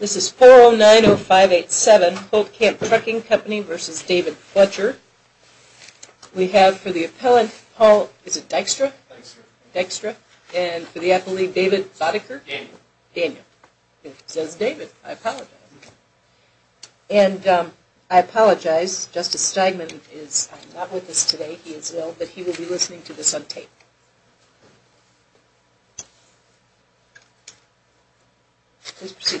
This is 4090587 Holtkamp Trucking Company v. David Fletcher. We have for the appellant, Paul, is it Dykstra? Dykstra. Dykstra. And for the appellee, David Boddicker? Daniel. Daniel. It says David, I apologize. And I apologize, Justice Stegman is not with us today, he is ill, but he will be listening to this on tape. Please proceed.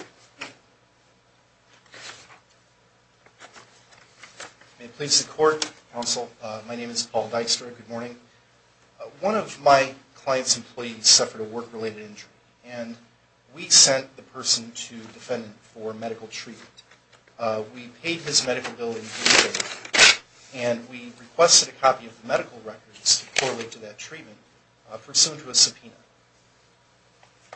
May it please the Court, Counsel, my name is Paul Dykstra, good morning. One of my client's employees suffered a work-related injury, and we sent the person to the defendant for medical treatment. We paid his medical bill in due date, and we requested a copy of the medical records to correlate to that treatment, pursuant to a subpoena.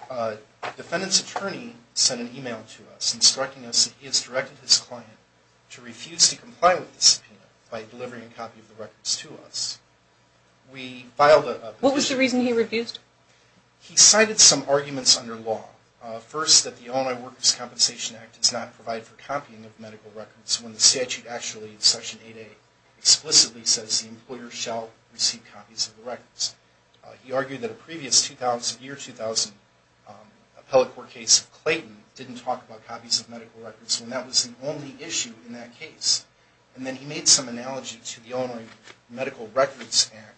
The defendant's attorney sent an email to us instructing us that he has directed his client to refuse to comply with the subpoena by delivering a copy of the records to us. What was the reason he refused? He cited some arguments under law. First, that the Illinois Workers' Compensation Act does not provide for copying of medical records, when the statute actually, in Section 8A, explicitly says the employer shall receive copies of the records. He argued that a previous year, 2000, appellate court case of Clayton didn't talk about copies of medical records, when that was the only issue in that case. And then he made some analogy to the Illinois Medical Records Act,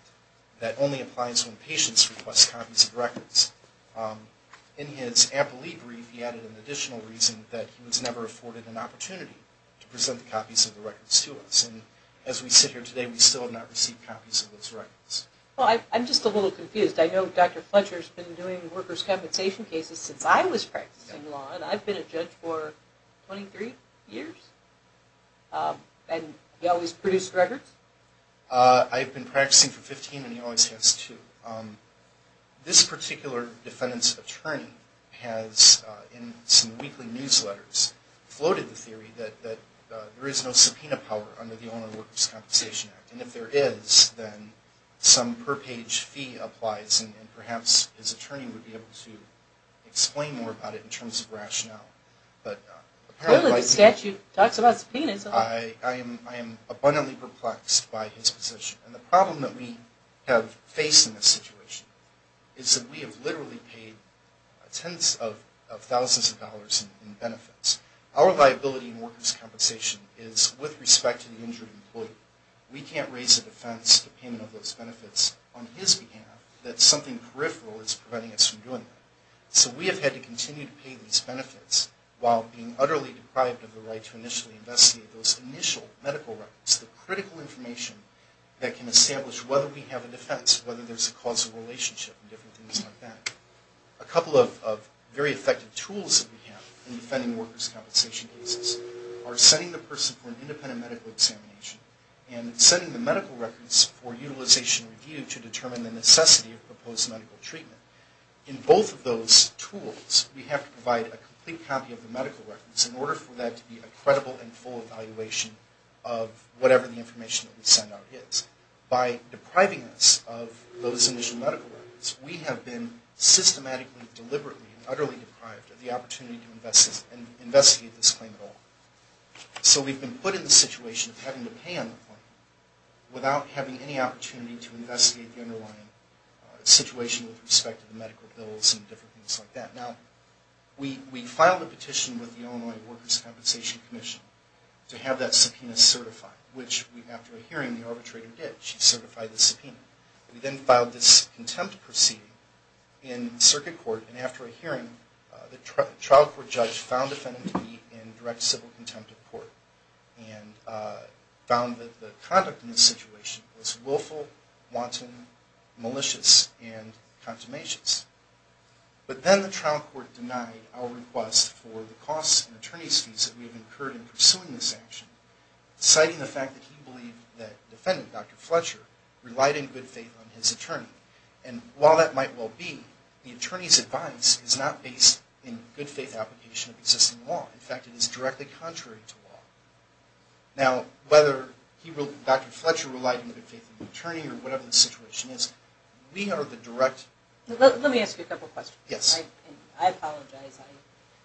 that only applies when patients request copies of records. In his amply brief, he added an additional reason that he was never afforded an opportunity to present copies of the records to us. And as we sit here today, we still have not received copies of those records. Well, I'm just a little confused. I know Dr. Fletcher's been doing workers' compensation cases since I was practicing law, and I've been a judge for 23 years. And he always produced records? I've been practicing for 15, and he always has, too. This particular defendant's attorney has, in some weekly newsletters, floated the theory that there is no subpoena power under the Illinois Workers' Compensation Act. And if there is, then some per-page fee applies, and perhaps his attorney would be able to explain more about it in terms of rationale. Apparently the statute talks about subpoenas. I am abundantly perplexed by his position. And the problem that we have faced in this situation is that we have literally paid tens of thousands of dollars in benefits. Our liability in workers' compensation is, with respect to the injured employee, we can't raise a defense to payment of those benefits on his behalf, that something peripheral is preventing us from doing that. So we have had to continue to pay these benefits while being utterly deprived of the right to initially investigate those initial medical records, the critical information that can establish whether we have a defense, whether there's a causal relationship and different things like that. A couple of very effective tools that we have in defending workers' compensation cases are sending the person for an independent medical examination and sending the medical records for utilization review to determine the necessity of proposed medical treatment. In both of those tools, we have to provide a complete copy of the medical records in order for that to be a credible and full evaluation of whatever the information that we send out is. By depriving us of those initial medical records, we have been systematically, deliberately, and utterly deprived of the opportunity to investigate this claim at all. So we've been put in the situation of having to pay on the claim without having any opportunity to investigate the underlying situation with respect to the medical bills and different things like that. Now, we filed a petition with the Illinois Workers' Compensation Commission to have that subpoena certified, which after a hearing, the arbitrator did. She certified the subpoena. We then filed this contempt proceeding in circuit court, and after a hearing, the trial court judge found the defendant to be in direct civil contempt of court and found that the conduct in this situation was willful, wanton, malicious, and consummations. But then the trial court denied our request for the costs and attorney's fees that we have incurred in pursuing this action, citing the fact that he believed that the defendant, Dr. Fletcher, relied in good faith on his attorney. And while that might well be, the attorney's advice is not based in good faith application of existing law. In fact, it is directly contrary to law. Now, whether Dr. Fletcher relied in good faith on the attorney or whatever the situation is, we are the direct... Let me ask you a couple questions. Yes. I apologize.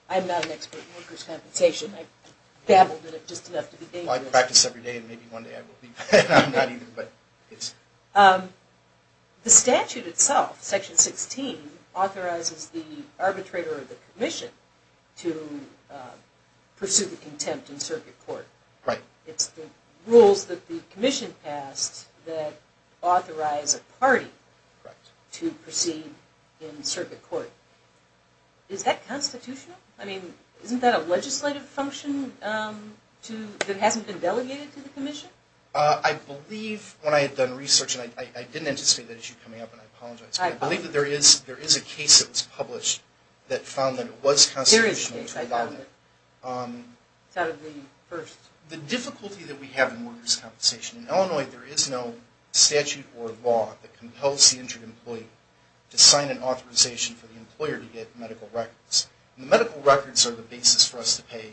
I'm not an expert in workers' compensation. I babbled at it just enough to be dangerous. Well, I practice every day, and maybe one day I will be. I'm not either, but it's... The statute itself, Section 16, authorizes the arbitrator or the commission to pursue the contempt in circuit court. Right. It's the rules that the commission passed that authorize a party to proceed in circuit court. Is that constitutional? I mean, isn't that a legislative function that hasn't been delegated to the commission? I believe, when I had done research, and I didn't anticipate that issue coming up, and I apologize. I believe that there is a case that was published that found that it was constitutional to abide. There is a case, I found it. It's out of the first... The difficulty that we have in workers' compensation... In Illinois, there is no statute or law that compels the injured employee to sign an authorization for the employer to get medical records. The medical records are the basis for us to pay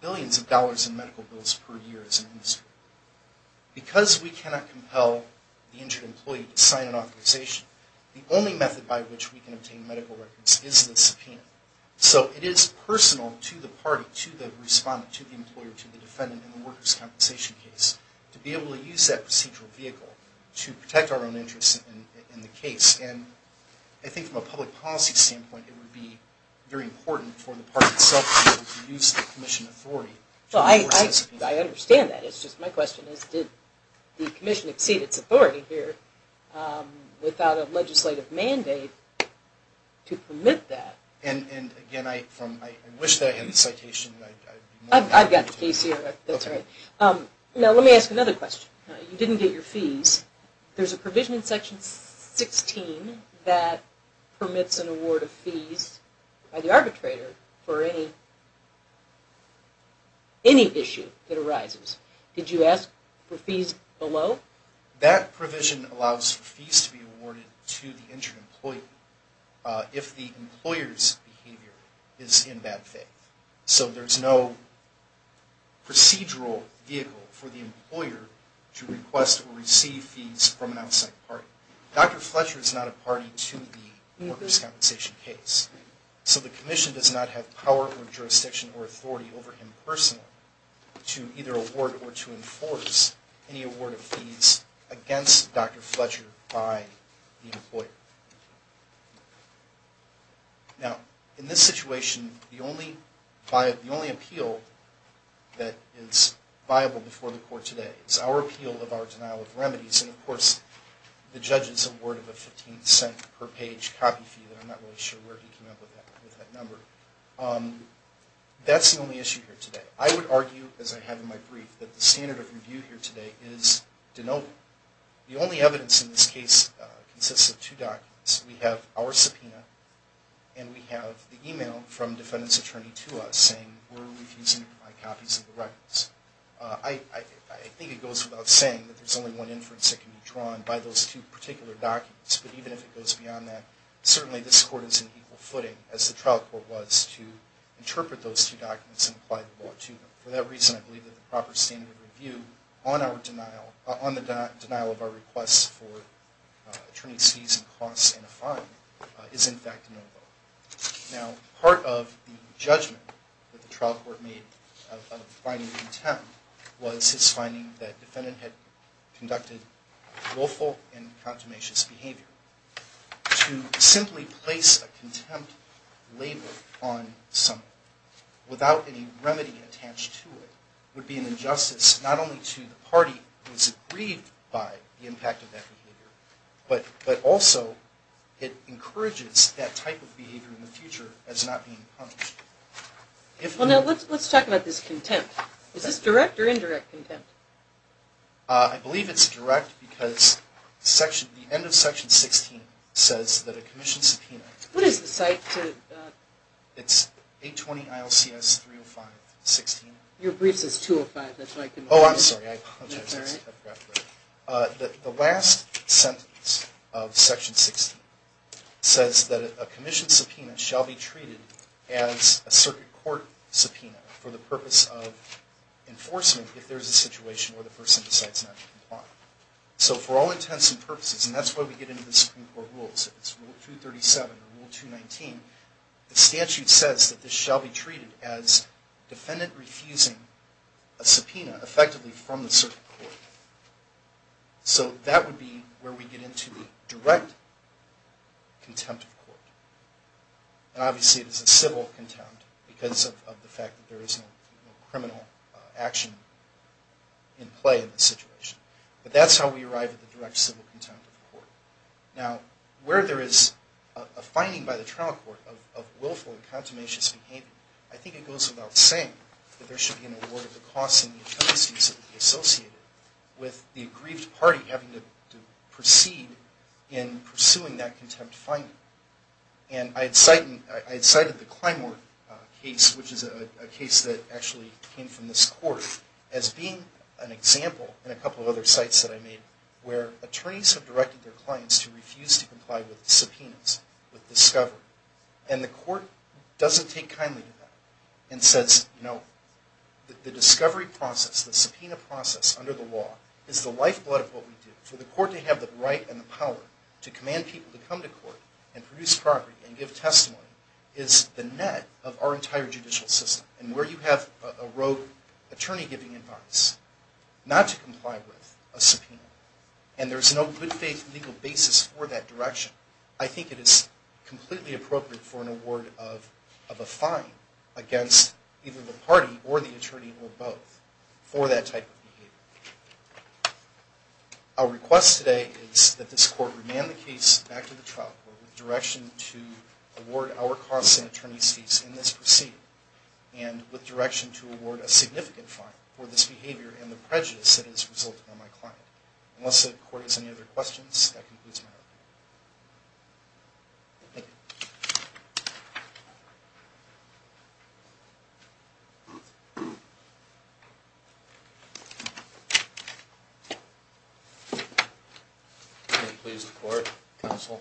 billions of dollars in medical bills per year as an industry. Because we cannot compel the injured employee to sign an authorization, the only method by which we can obtain medical records is in a subpoena. So it is personal to the party, to the respondent, to the employer, to the defendant in the workers' compensation case, to be able to use that procedural vehicle to protect our own interests in the case. And I think from a public policy standpoint, it would be very important for the party itself to be able to use the commission authority. I understand that. It's just my question is, did the commission exceed its authority here without a legislative mandate to permit that? And again, I wish that I had the citation. I've got the case here. Now let me ask another question. You didn't get your fees. There's a provision in Section 16 that permits an award of fees by the arbitrator for any issue that arises. Did you ask for fees below? That provision allows for fees to be awarded to the injured employee. If the employer's behavior is in bad faith. So there's no procedural vehicle for the employer to request or receive fees from an outside party. Dr. Fletcher is not a party to the workers' compensation case. So the commission does not have power or jurisdiction or authority over him personally to either award or to enforce any award of fees against Dr. Fletcher by the employer. Now, in this situation, the only appeal that is viable before the court today is our appeal of our denial of remedies. And of course, the judge is awarded a $0.15 per page copy fee. I'm not really sure where he came up with that number. That's the only issue here today. I would argue, as I have in my brief, that the standard of review here today is denial. The only evidence in this case consists of two documents. We have our subpoena and we have the email from the defendant's attorney to us saying we're refusing to provide copies of the records. I think it goes without saying that there's only one inference that can be drawn by those two particular documents. But even if it goes beyond that, certainly this court is in equal footing, as the trial court was, to interpret those two documents and apply the law to them. For that reason, I believe that the proper standard of review on the denial of our requests for attorney's fees and costs and a fine is, in fact, no vote. Now, part of the judgment that the trial court made of finding contempt was its finding that the defendant had conducted willful and contumacious behavior. To simply place a contempt label on something without any remedy attached to it would be an injustice not only to the party that was aggrieved by the impact of that behavior, but also it encourages that type of behavior in the future as not being punished. Let's talk about this contempt. Is this direct or indirect contempt? I believe it's direct because the end of Section 16 says that a commission subpoena... What is the site? It's 820 ILCS 305-16. Your brief says 205. Oh, I'm sorry. I apologize. The last sentence of Section 16 says that a commission subpoena shall be treated as a circuit court subpoena for the purpose of enforcement if there is a situation where the person decides not to comply. So for all intents and purposes, and that's why we get into the Supreme Court rules, Rule 237 and Rule 219, the statute says that this shall be treated as a subpoena effectively from the circuit court. So that would be where we get into the direct contempt of court. And obviously it is a civil contempt because of the fact that there is no criminal action in play in this situation. But that's how we arrive at the direct civil contempt of court. Now, where there is a finding by the trial court of willful and contumacious behavior, I think it goes without saying that there should be an award of the costs and the penalties associated with the aggrieved party having to proceed in pursuing that contempt finding. And I had cited the Climeworth case, which is a case that actually came from this court, as being an example in a couple of other sites that I made where attorneys have directed their clients to refuse to comply with subpoenas, with discovery. And the court doesn't take kindly to that and says, you know, the discovery process, the subpoena process under the law is the lifeblood of what we do. For the court to have the right and the power to command people to come to court and produce property and give testimony is the net of our entire judicial system. And where you have a rogue attorney giving advice not to comply with a subpoena and there's no good faith legal basis for that direction, I think it is completely appropriate for an award of a fine against either the party or the attorney or both for that type of behavior. Our request today is that this court remand the case back to the trial court with direction to award our costs and attorney's fees in this proceeding and with direction to award a significant fine for this behavior and the prejudice that has resulted on my client. Unless the court has any other questions, that concludes my opening. Thank you. May it please the court, counsel.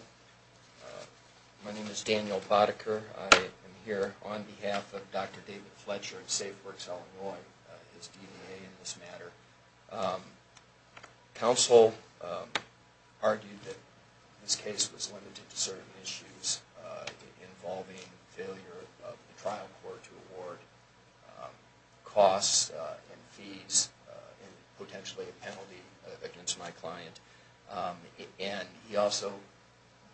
My name is Daniel Boddicker. I am here on behalf of Dr. David Fletcher at SafeWorks Illinois, and I'm his DBA in this matter. Counsel argued that this case was limited to certain issues involving failure of the trial court to award costs and fees and potentially a penalty against my client. And he also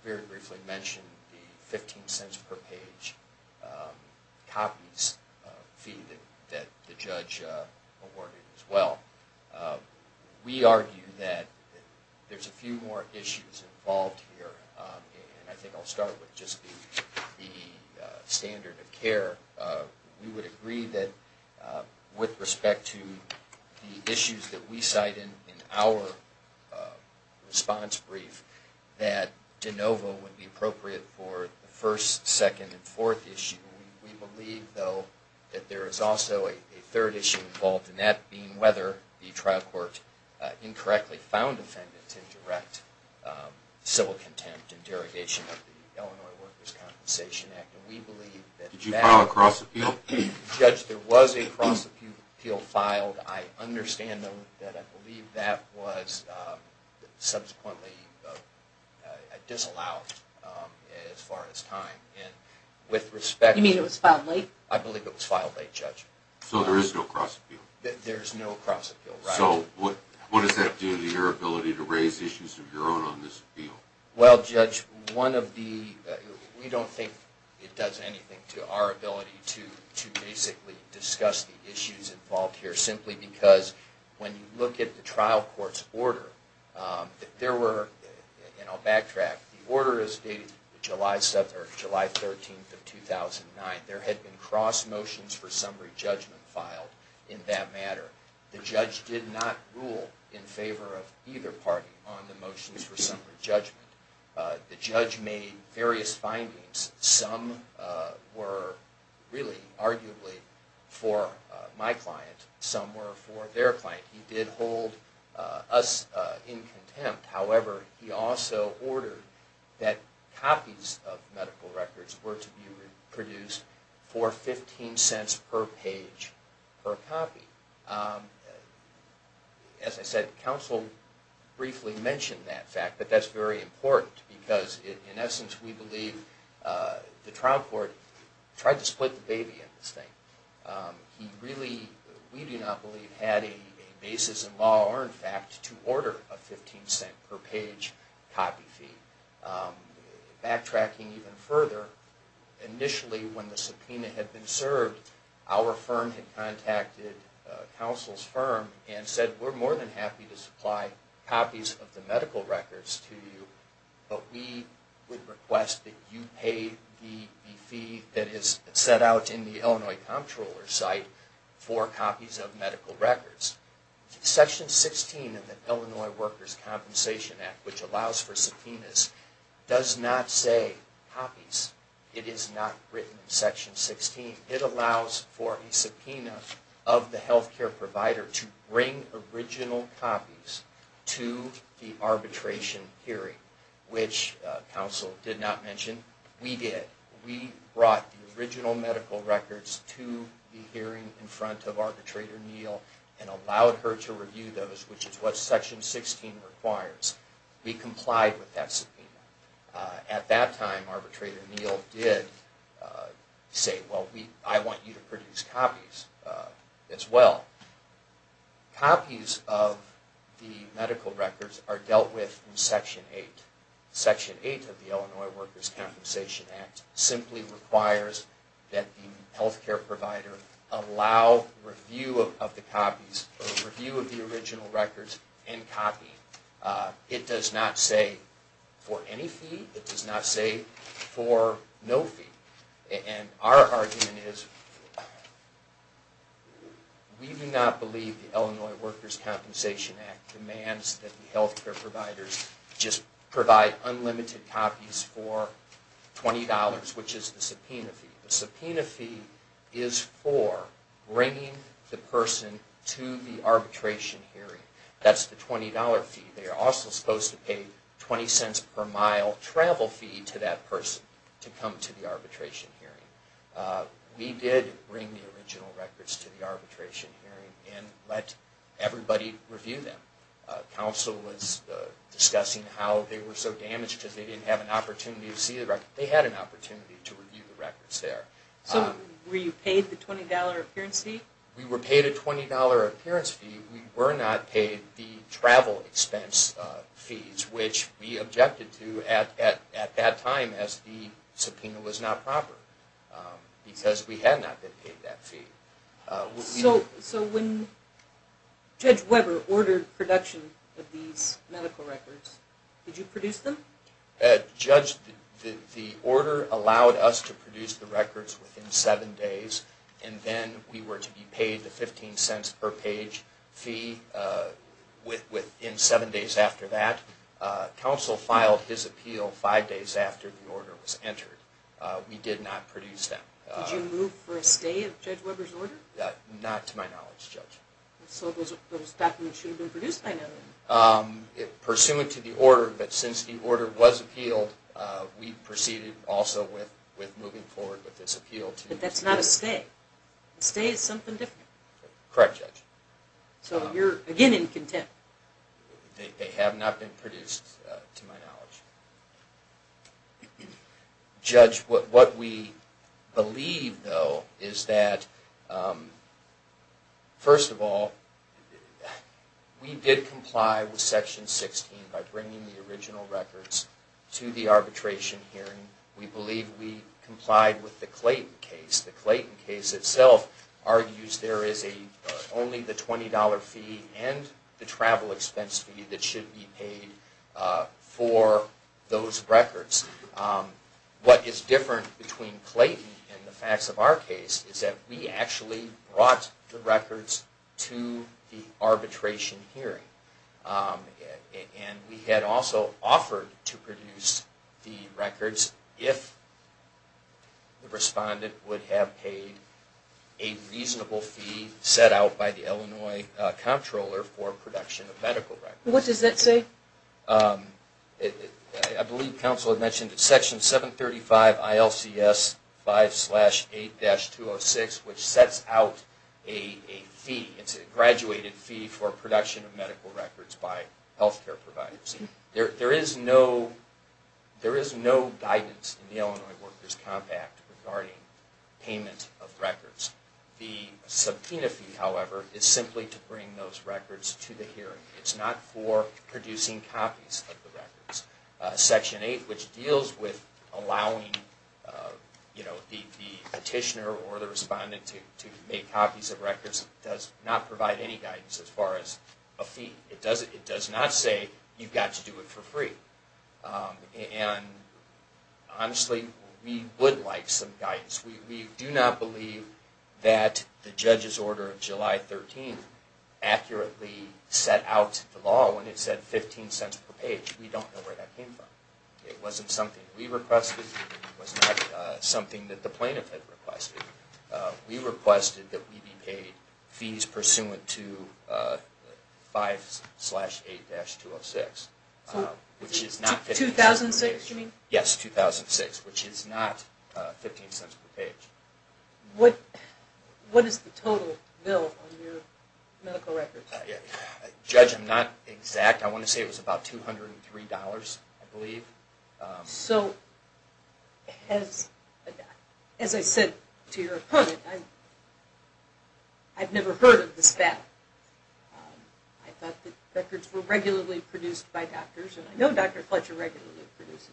very briefly mentioned the 15 cents per page copies fee that the judge awarded as well. We argue that there's a few more issues involved here, and I think I'll start with just the standard of care. We would agree that with respect to the issues that we cite in our response brief, that de novo would be appropriate for the first, second, and fourth issue. We believe, though, that there is also a third issue involved, and that being whether the trial court incorrectly found defendants in direct civil contempt and derogation of the Illinois Workers' Compensation Act. Did you file a cross-appeal? Judge, there was a cross-appeal filed. I understand, though, that I believe that was subsequently disallowed as far as time. You mean it was filed late? I believe it was filed late, Judge. So there is no cross-appeal? There is no cross-appeal, right. So what does that do to your ability to raise issues of your own on this appeal? Well, Judge, we don't think it does anything to our ability to basically discuss the issues involved here, simply because when you look at the trial court's order, and I'll backtrack, the order is dated July 13, 2009. There had been cross motions for summary judgment filed in that matter. The judge did not rule in favor of either party on the motions for summary judgment. The judge made various findings. Some were really arguably for my client. Some were for their client. He did hold us in contempt. However, he also ordered that copies of medical records were to be produced for 15 cents per page per copy. As I said, counsel briefly mentioned that fact, but that's very important, because in essence we believe the trial court tried to split the baby in this thing. He really, we do not believe, had a basis in law or in fact to order a 15 cent per page copy fee. Backtracking even further, initially when the subpoena had been served, our firm had contacted counsel's firm and said, we're more than happy to supply copies of the medical records to you, but we would request that you pay the fee that is set out in the Illinois comptroller's site for copies of medical records. Section 16 of the Illinois Workers' Compensation Act, which allows for subpoenas, does not say copies. It is not written in Section 16. It allows for a subpoena of the health care provider to bring original copies to the arbitration hearing, which counsel did not mention. We did. We brought the original medical records to the hearing in front of Arbitrator Neal and allowed her to review those, which is what Section 16 requires. We complied with that subpoena. At that time, Arbitrator Neal did say, well, I want you to produce copies as well. Copies of the medical records are dealt with in Section 8. Section 8 of the Illinois Workers' Compensation Act simply requires that the health care provider allow review of the copies, review of the original records and copy. It does not say for any fee. It does not say for no fee. And our argument is we do not believe the Illinois Workers' Compensation Act demands that the health care providers just provide unlimited copies for $20, which is the subpoena fee. The subpoena fee is for bringing the person to the arbitration hearing. That's the $20 fee. They are also supposed to pay $0.20 per mile travel fee to that person to come to the arbitration hearing. We did bring the original records to the arbitration hearing and let everybody review them. Counsel was discussing how they were so damaged because they didn't have an opportunity to see the records. They had an opportunity to review the records there. So were you paid the $20 appearance fee? We were paid a $20 appearance fee. We were not paid the travel expense fees, which we objected to at that time as the subpoena was not proper because we had not been paid that fee. So when Judge Weber ordered production of these medical records, did you produce them? Judge, the order allowed us to produce the records within seven days, and then we were to be paid the $0.15 per page fee within seven days after that. Counsel filed his appeal five days after the order was entered. We did not produce them. Did you move for a stay of Judge Weber's order? Not to my knowledge, Judge. So those documents should have been produced by now then? Pursuant to the order, but since the order was appealed, we proceeded also with moving forward with this appeal. But that's not a stay. A stay is something different. Correct, Judge. So you're again in contempt. They have not been produced to my knowledge. Judge, what we believe, though, is that, first of all, we did comply with Section 16 by bringing the original records to the arbitration hearing. We believe we complied with the Clayton case. The Clayton case itself argues there is only the $20 fee and the travel expense fee that should be paid for those records. What is different between Clayton and the facts of our case is that we actually brought the records to the arbitration hearing. And we had also offered to produce the records if the respondent would have paid a reasonable fee set out by the Illinois Comptroller for production of medical records. What does that say? I believe counsel had mentioned that Section 735 ILCS 5-8-206, which sets out a fee. It's a graduated fee for production of medical records by health care providers. There is no guidance in the Illinois Workers' Comp Act regarding payment of records. The subpoena fee, however, is simply to bring those records to the hearing. It's not for producing copies of the records. Section 8, which deals with allowing the petitioner or the respondent to make copies of records, does not provide any guidance as far as a fee. It does not say you've got to do it for free. And honestly, we would like some guidance. We do not believe that the judge's order of July 13th accurately set out the law when it said 15 cents per page. We don't know where that came from. It wasn't something we requested. It was not something that the plaintiff had requested. We requested that we be paid fees pursuant to 5-8-206. 2006, you mean? Yes, 2006, which is not 15 cents per page. What is the total bill on your medical records? Judge, I'm not exact. I want to say it was about $203, I believe. So as I said to your opponent, I've never heard of this battle. I thought that records were regularly produced by doctors. I know Dr. Fletcher regularly produces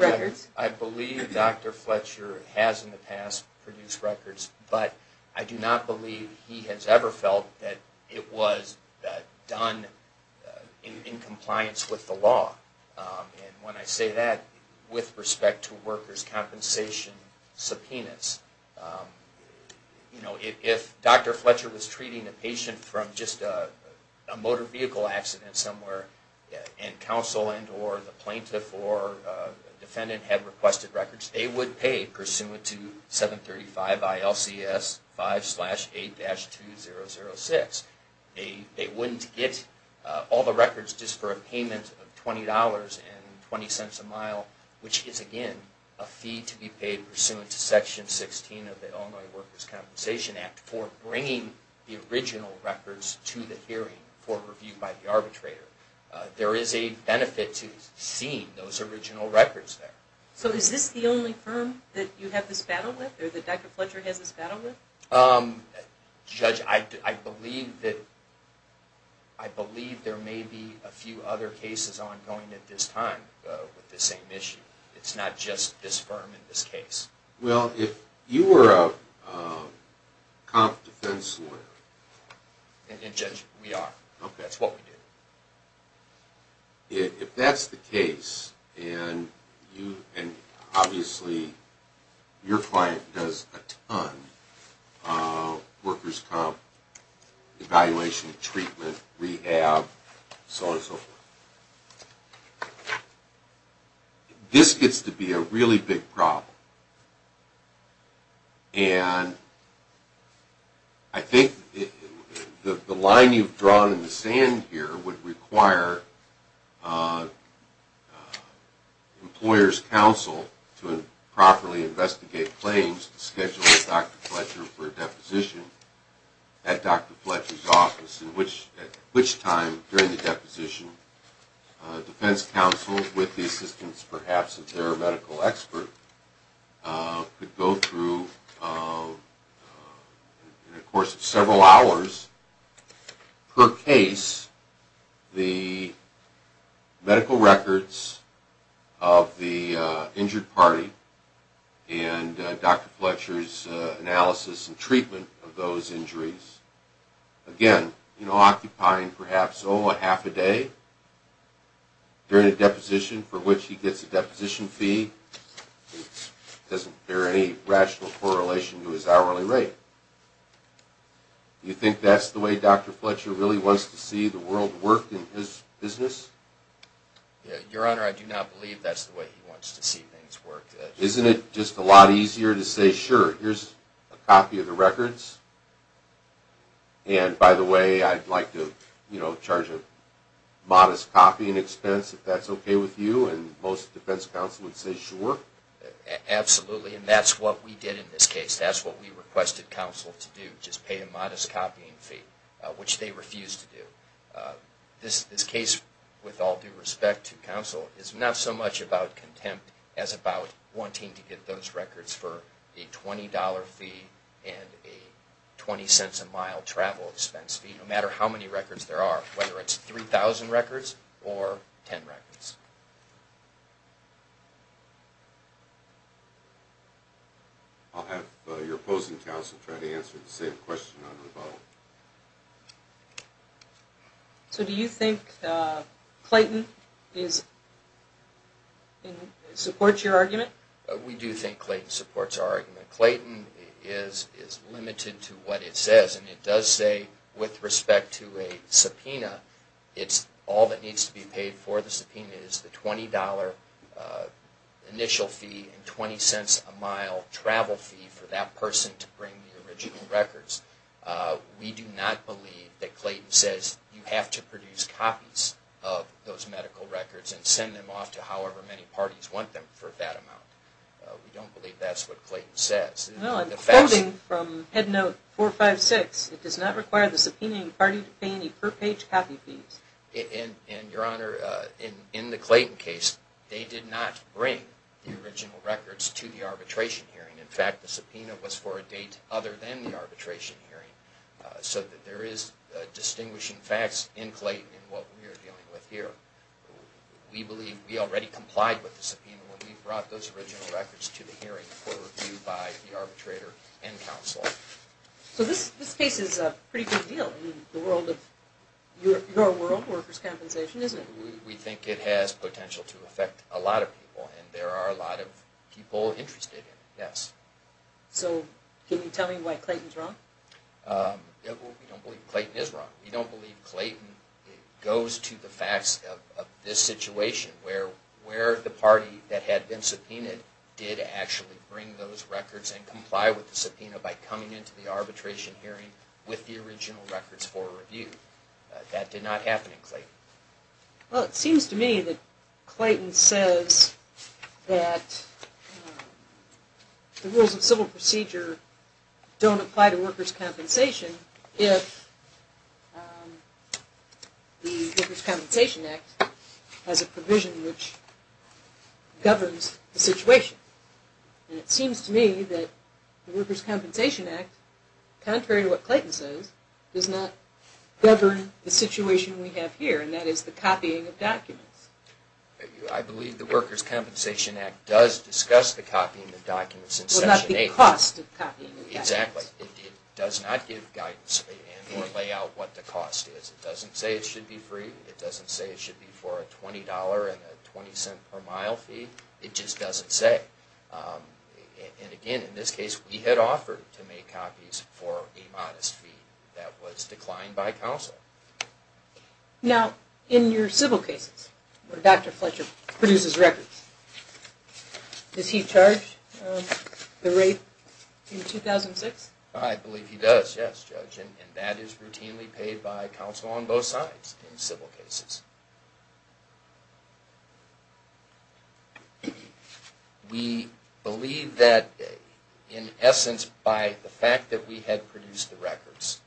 records. Judge, I believe Dr. Fletcher has in the past produced records, but I do not believe he has ever felt that it was done in compliance with the law. And when I say that with respect to workers' compensation subpoenas, if Dr. Fletcher was treating a patient from just a motor vehicle accident somewhere and counsel and or the plaintiff or defendant had requested records, they would pay pursuant to 735 ILCS 5-8-2006. They wouldn't get all the records just for a payment of $20.20 a mile, which is, again, a fee to be paid pursuant to Section 16 of the Illinois Workers' Compensation Act for bringing the original records to the hearing for review by the arbitrator. There is a benefit to seeing those original records there. So is this the only firm that you have this battle with or that Dr. Fletcher has this battle with? Judge, I believe there may be a few other cases ongoing at this time with this same issue. It's not just this firm in this case. Well, if you were a comp defense lawyer... And Judge, we are. That's what we do. If that's the case, and obviously your client does a ton of workers' comp, evaluation, treatment, rehab, so on and so forth, this gets to be a really big problem. And I think the line you've drawn in the sand here would require an employer's counsel to properly investigate claims and schedule Dr. Fletcher for a deposition at Dr. Fletcher's office, at which time, during the deposition, defense counsel, with the assistance perhaps of their medical expert, could go through, in the course of several hours per case, the medical records of the injured party and Dr. Fletcher's analysis and treatment of those injuries, again, occupying perhaps, oh, a half a day during a deposition, for which he gets a deposition fee. It doesn't bear any rational correlation to his hourly rate. Do you think that's the way Dr. Fletcher really wants to see the world work in his business? Your Honor, I do not believe that's the way he wants to see things work. Isn't it just a lot easier to say, sure, here's a copy of the records, and, by the way, I'd like to charge a modest copying expense, if that's okay with you, and most defense counsel would say, sure. Absolutely, and that's what we did in this case. That's what we requested counsel to do, just pay a modest copying fee, which they refused to do. This case, with all due respect to counsel, is not so much about contempt as about wanting to get those records for a $20 fee and a 20 cents a mile travel expense fee, no matter how many records there are, whether it's 3,000 records or 10 records. I'll have your opposing counsel try to answer the same question on rebuttal. So do you think Clayton supports your argument? We do think Clayton supports our argument. Clayton is limited to what it says, and it does say, with respect to a subpoena, it's all that needs to be paid for the subpoena is the $20 initial fee and 20 cents a mile travel fee for that person to bring the original records. We do not believe that Clayton says you have to produce copies of those medical records and send them off to however many parties want them for that amount. We don't believe that's what Clayton says. Well, I'm quoting from Head Note 456. It does not require the subpoenaing party to pay any per-page copy fees. And, Your Honor, in the Clayton case, they did not bring the original records to the arbitration hearing. In fact, the subpoena was for a date other than the arbitration hearing so that there is distinguishing facts in Clayton in what we are dealing with here. We believe we already complied with the subpoena when we brought those original records to the hearing for review by the arbitrator and counsel. So this case is a pretty big deal in the world of your world, workers' compensation, isn't it? We think it has potential to affect a lot of people, and there are a lot of people interested in it, yes. So can you tell me why Clayton is wrong? We don't believe Clayton is wrong. We don't believe Clayton goes to the facts of this situation where the party that had been subpoenaed did actually bring those records and comply with the subpoena by coming into the arbitration hearing with the original records for review. That did not happen in Clayton. Well, it seems to me that Clayton says that the rules of civil procedure don't apply to workers' compensation if the Workers' Compensation Act has a provision which governs the situation. And it seems to me that the Workers' Compensation Act, contrary to what Clayton says, does not govern the situation we have here, and that is the copying of documents. I believe the Workers' Compensation Act does discuss the copying of documents in Section 8. Well, not the cost of copying the documents. Exactly. It does not give guidance or lay out what the cost is. It doesn't say it should be free. It doesn't say it should be for a $20.20 per mile fee. It just doesn't say. And again, in this case, we had offered to make copies for a modest fee that was declined by counsel. Now, in your civil cases where Dr. Fletcher produces records, does he charge the rate in 2006? I believe he does, yes, Judge, and that is routinely paid by counsel on both sides in civil cases. We believe that, in essence, by the fact that we had produced the records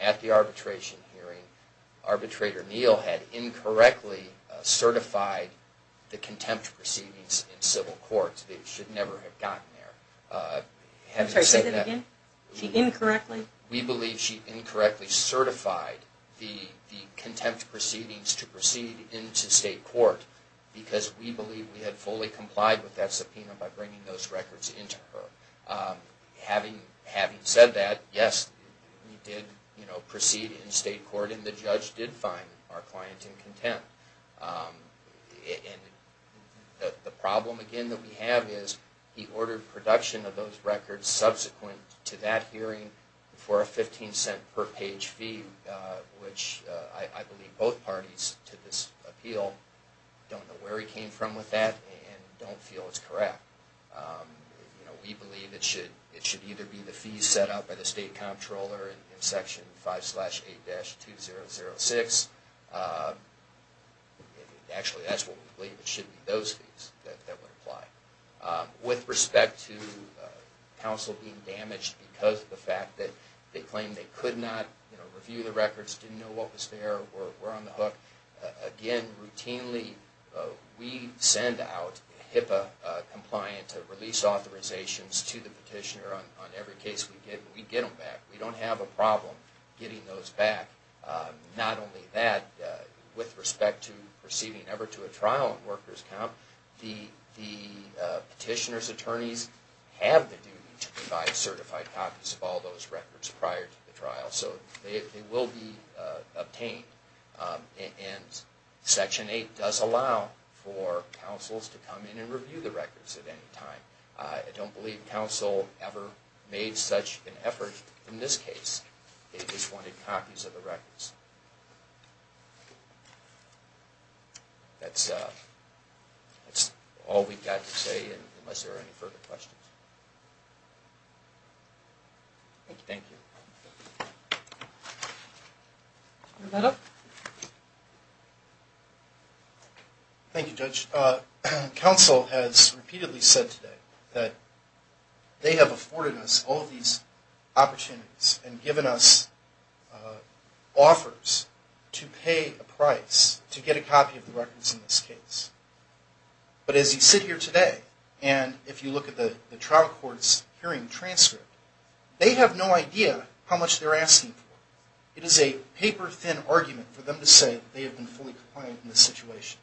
at the arbitration hearing, Arbitrator Neal had incorrectly certified the contempt proceedings in civil courts. They should never have gotten there. Say that again? She incorrectly? We believe she incorrectly certified the contempt proceedings to proceed into state court because we believe we had fully complied with that subpoena by bringing those records into her. Having said that, yes, we did proceed in state court, and the judge did find our client in contempt. The problem, again, that we have is he ordered production of those records subsequent to that hearing for a $0.15 per page fee, which I believe both parties to this appeal don't know where he came from with that and don't feel is correct. We believe it should either be the fees set out by the state comptroller in Section 5-8-2006. Actually, that's what we believe it should be, those fees that would apply. With respect to counsel being damaged because of the fact that they claimed they could not review the records, didn't know what was there, or were on the hook, again, routinely we send out HIPAA-compliant release authorizations to the petitioner on every case we get, and we get them back. We don't have a problem getting those back. Not only that, with respect to receiving ever to a trial on workers' comp, the petitioner's attorneys have the duty to provide certified copies of all those records prior to the trial. So they will be obtained. And Section 8 does allow for counsels to come in and review the records at any time. I don't believe counsel ever made such an effort in this case. They just wanted copies of the records. That's all we've got to say, unless there are any further questions. Thank you. Thank you, Judge. Counsel has repeatedly said today that they have afforded us all of these opportunities and given us offers to pay a price to get a copy of the records in this case. But as you sit here today, and if you look at the trial court's hearing transcript, they have no idea how much they're asking for. It is a paper-thin argument for them to say they have been fully compliant in this situation.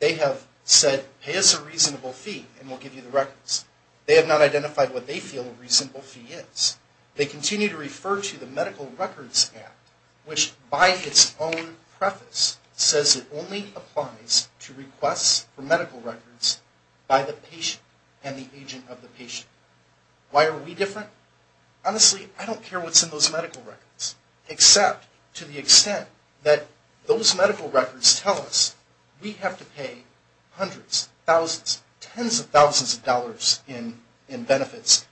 They have said, pay us a reasonable fee and we'll give you the records. They have not identified what they feel a reasonable fee is. They continue to refer to the Medical Records Act, which by its own preface says it only applies to requests for medical records by the patient and the agent of the patient. Why are we different? Honestly, I don't care what's in those medical records, except to the extent that those medical records tell us we have to pay hundreds, thousands, tens of thousands of dollars in benefits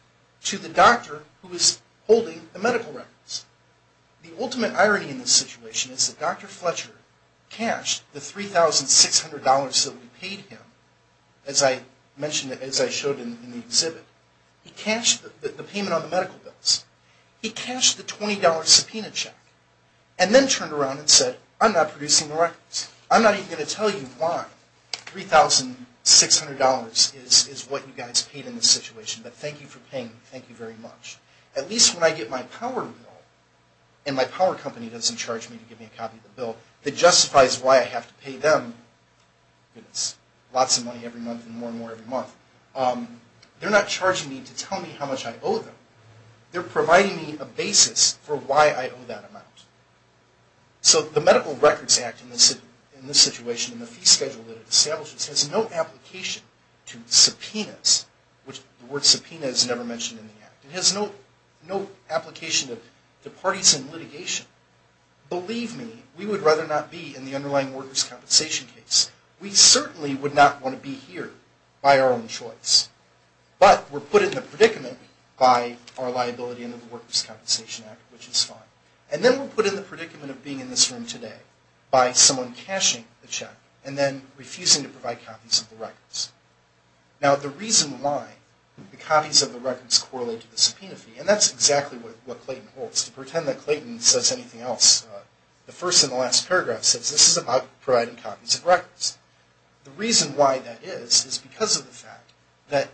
to the doctor who is holding the medical records. The ultimate irony in this situation is that Dr. Fletcher cashed the $3,600 that we paid him, as I mentioned, as I showed in the exhibit. He cashed the payment on the medical bills. He cashed the $20 subpoena check and then turned around and said, I'm not producing the records. I'm not even going to tell you why $3,600 is what you guys paid in this situation, but thank you for paying. Thank you very much. At least when I get my power bill and my power company doesn't charge me to give me a copy of the bill that justifies why I have to pay them lots of money every month and more and more every month, they're not charging me to tell me how much I owe them. They're providing me a basis for why I owe that amount. So the Medical Records Act in this situation and the fee schedule that it establishes has no application to subpoenas, which the word subpoena is never mentioned in the act. It has no application to parties in litigation. Believe me, we would rather not be in the underlying workers' compensation case. We certainly would not want to be here by our own choice. But we're put in the predicament by our liability under the Workers' Compensation Act, which is fine. And then we're put in the predicament of being in this room today by someone cashing the check and then refusing to provide copies of the records. Now the reason why the copies of the records correlate to the subpoena fee, and that's exactly what Clayton holds, to pretend that Clayton says anything else, the first and the last paragraph says this is about providing copies of records. The reason why that is is because of the fact that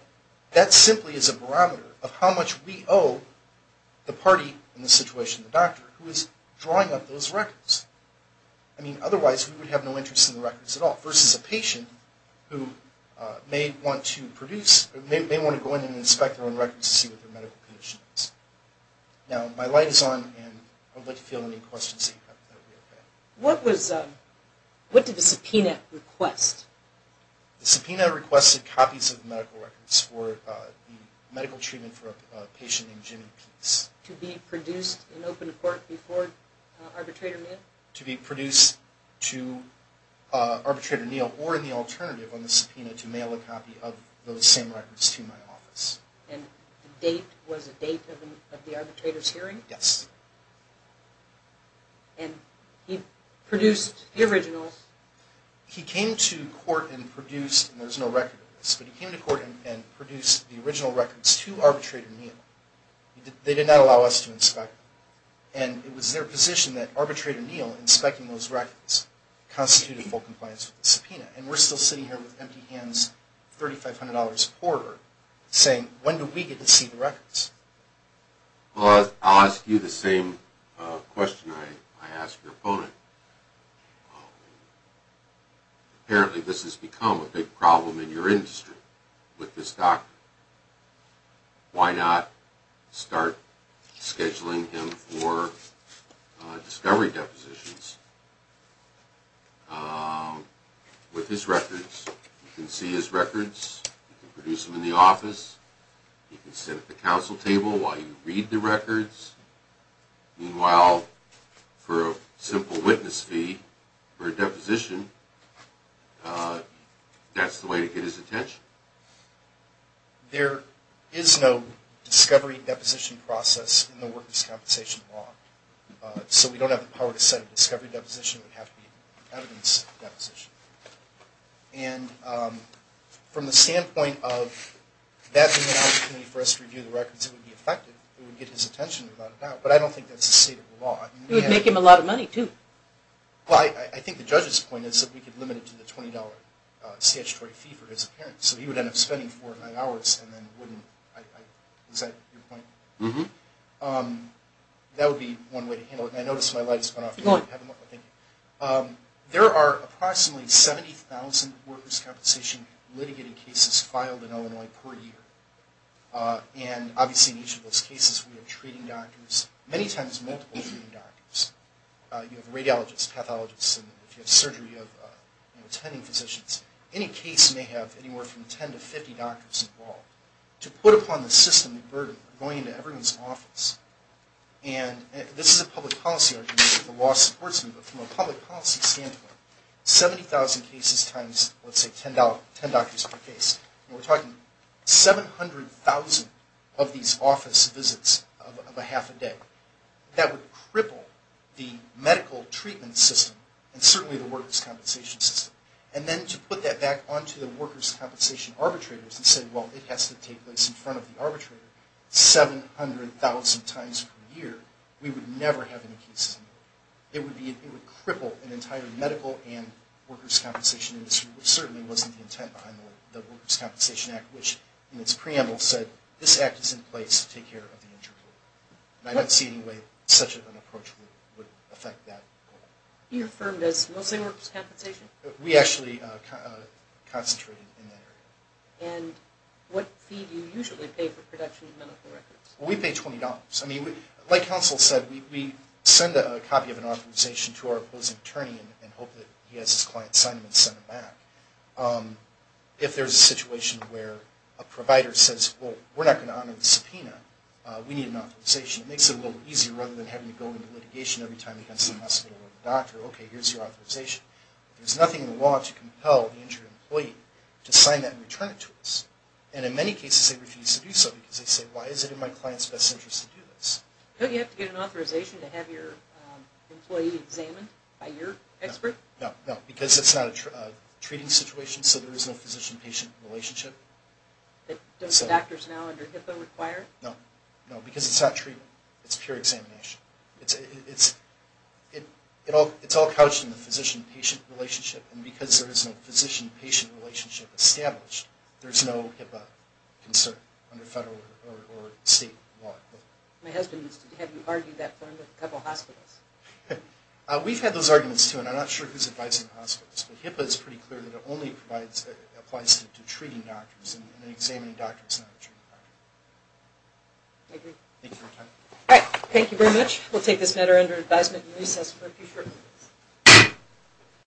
that simply is a barometer of how much we owe the party in this situation, the doctor, who is drawing up those records. I mean, otherwise we would have no interest in the records at all, versus a patient who may want to produce, may want to go in and inspect their own records to see what their medical condition is. Now my light is on, and I'd like to field any questions that you have. What was, what did the subpoena request? The subpoena requested copies of the medical records for the medical treatment for a patient named Jimmy Pease. To be produced in open court before arbitrator knew? To be produced to arbitrator Neal or in the alternative on the subpoena to mail a copy of those same records to my office. And the date was a date of the arbitrator's hearing? Yes. And he produced the originals? He came to court and produced, and there's no record of this, but he came to court and produced the original records to arbitrator Neal. They did not allow us to inspect them. And it was their position that arbitrator Neal inspecting those records constituted full compliance with the subpoena. And we're still sitting here with empty hands, $3,500 a quarter, saying, when do we get to see the records? Well, I'll ask you the same question I asked your opponent. Apparently this has become a big problem in your industry with this doctor. Why not start scheduling him for discovery depositions with his records? You can see his records. You can produce them in the office. You can sit at the council table while you read the records. Meanwhile, for a simple witness fee for a deposition, that's the way to get his attention? There is no discovery deposition process in the workers' compensation law. So we don't have the power to set a discovery deposition. It would have to be evidence deposition. And from the standpoint of that being an opportunity for us to review the records, it would be effective. It would get his attention without a doubt. But I don't think that's the state of the law. It would make him a lot of money, too. Well, I think the judge's point is that we could limit it to the $20 statutory fee for his appearance. So he would end up spending four or five hours and then wouldn't. Is that your point? Mm-hmm. That would be one way to handle it. And I notice my light has gone off. Go ahead. There are approximately 70,000 workers' compensation litigating cases filed in Illinois per year. And obviously in each of those cases we have treating doctors, many times multiple treating doctors. You have radiologists, pathologists, and if you have surgery, you have attending physicians. Any case may have anywhere from 10 to 50 doctors involved. To put upon the system the burden of going into everyone's office, and this is a public policy argument that the law supports, but from a public policy standpoint, 70,000 cases times, let's say, 10 doctors per case. We're talking 700,000 of these office visits of a half a day. That would cripple the medical treatment system and certainly the workers' compensation system. And then to put that back onto the workers' compensation arbitrators and say, well, it has to take place in front of the arbitrator 700,000 times per year, we would never have any cases. It would cripple an entire medical and workers' compensation industry, which certainly wasn't the intent behind the Workers' Compensation Act, which in its preamble said this act is in place to take care of the injured worker. And I don't see any way such an approach would affect that. Are you affirmed as mostly workers' compensation? We actually concentrated in that area. And what fee do you usually pay for production of medical records? We pay $20. I mean, like counsel said, we send a copy of an authorization to our opposing attorney and hope that he has his client sign them and send them back. If there's a situation where a provider says, well, we're not going to honor the subpoena, we need an authorization. It makes it a little easier rather than having to go into litigation every time against the hospital or the doctor. Okay, here's your authorization. There's nothing in the law to compel the injured employee to sign that and return it to us. And in many cases they refuse to do so because they say, why is it in my client's best interest to do this? Don't you have to get an authorization to have your employee examined by your expert? No, no, because it's not a treating situation, so there is no physician-patient relationship. Don't doctors now under HIPAA require it? No, no, because it's not treatment. It's pure examination. It's all couched in the physician-patient relationship, and because there is no physician-patient relationship established, there's no HIPAA concern under federal or state law. My husband has argued that point with a couple hospitals. We've had those arguments, too, and I'm not sure who's advising hospitals. HIPAA is pretty clear that it only applies to treating doctors and examining doctors, not treating doctors. Thank you for your time. All right, thank you very much. We'll take this matter under advisement and recess for a few short minutes.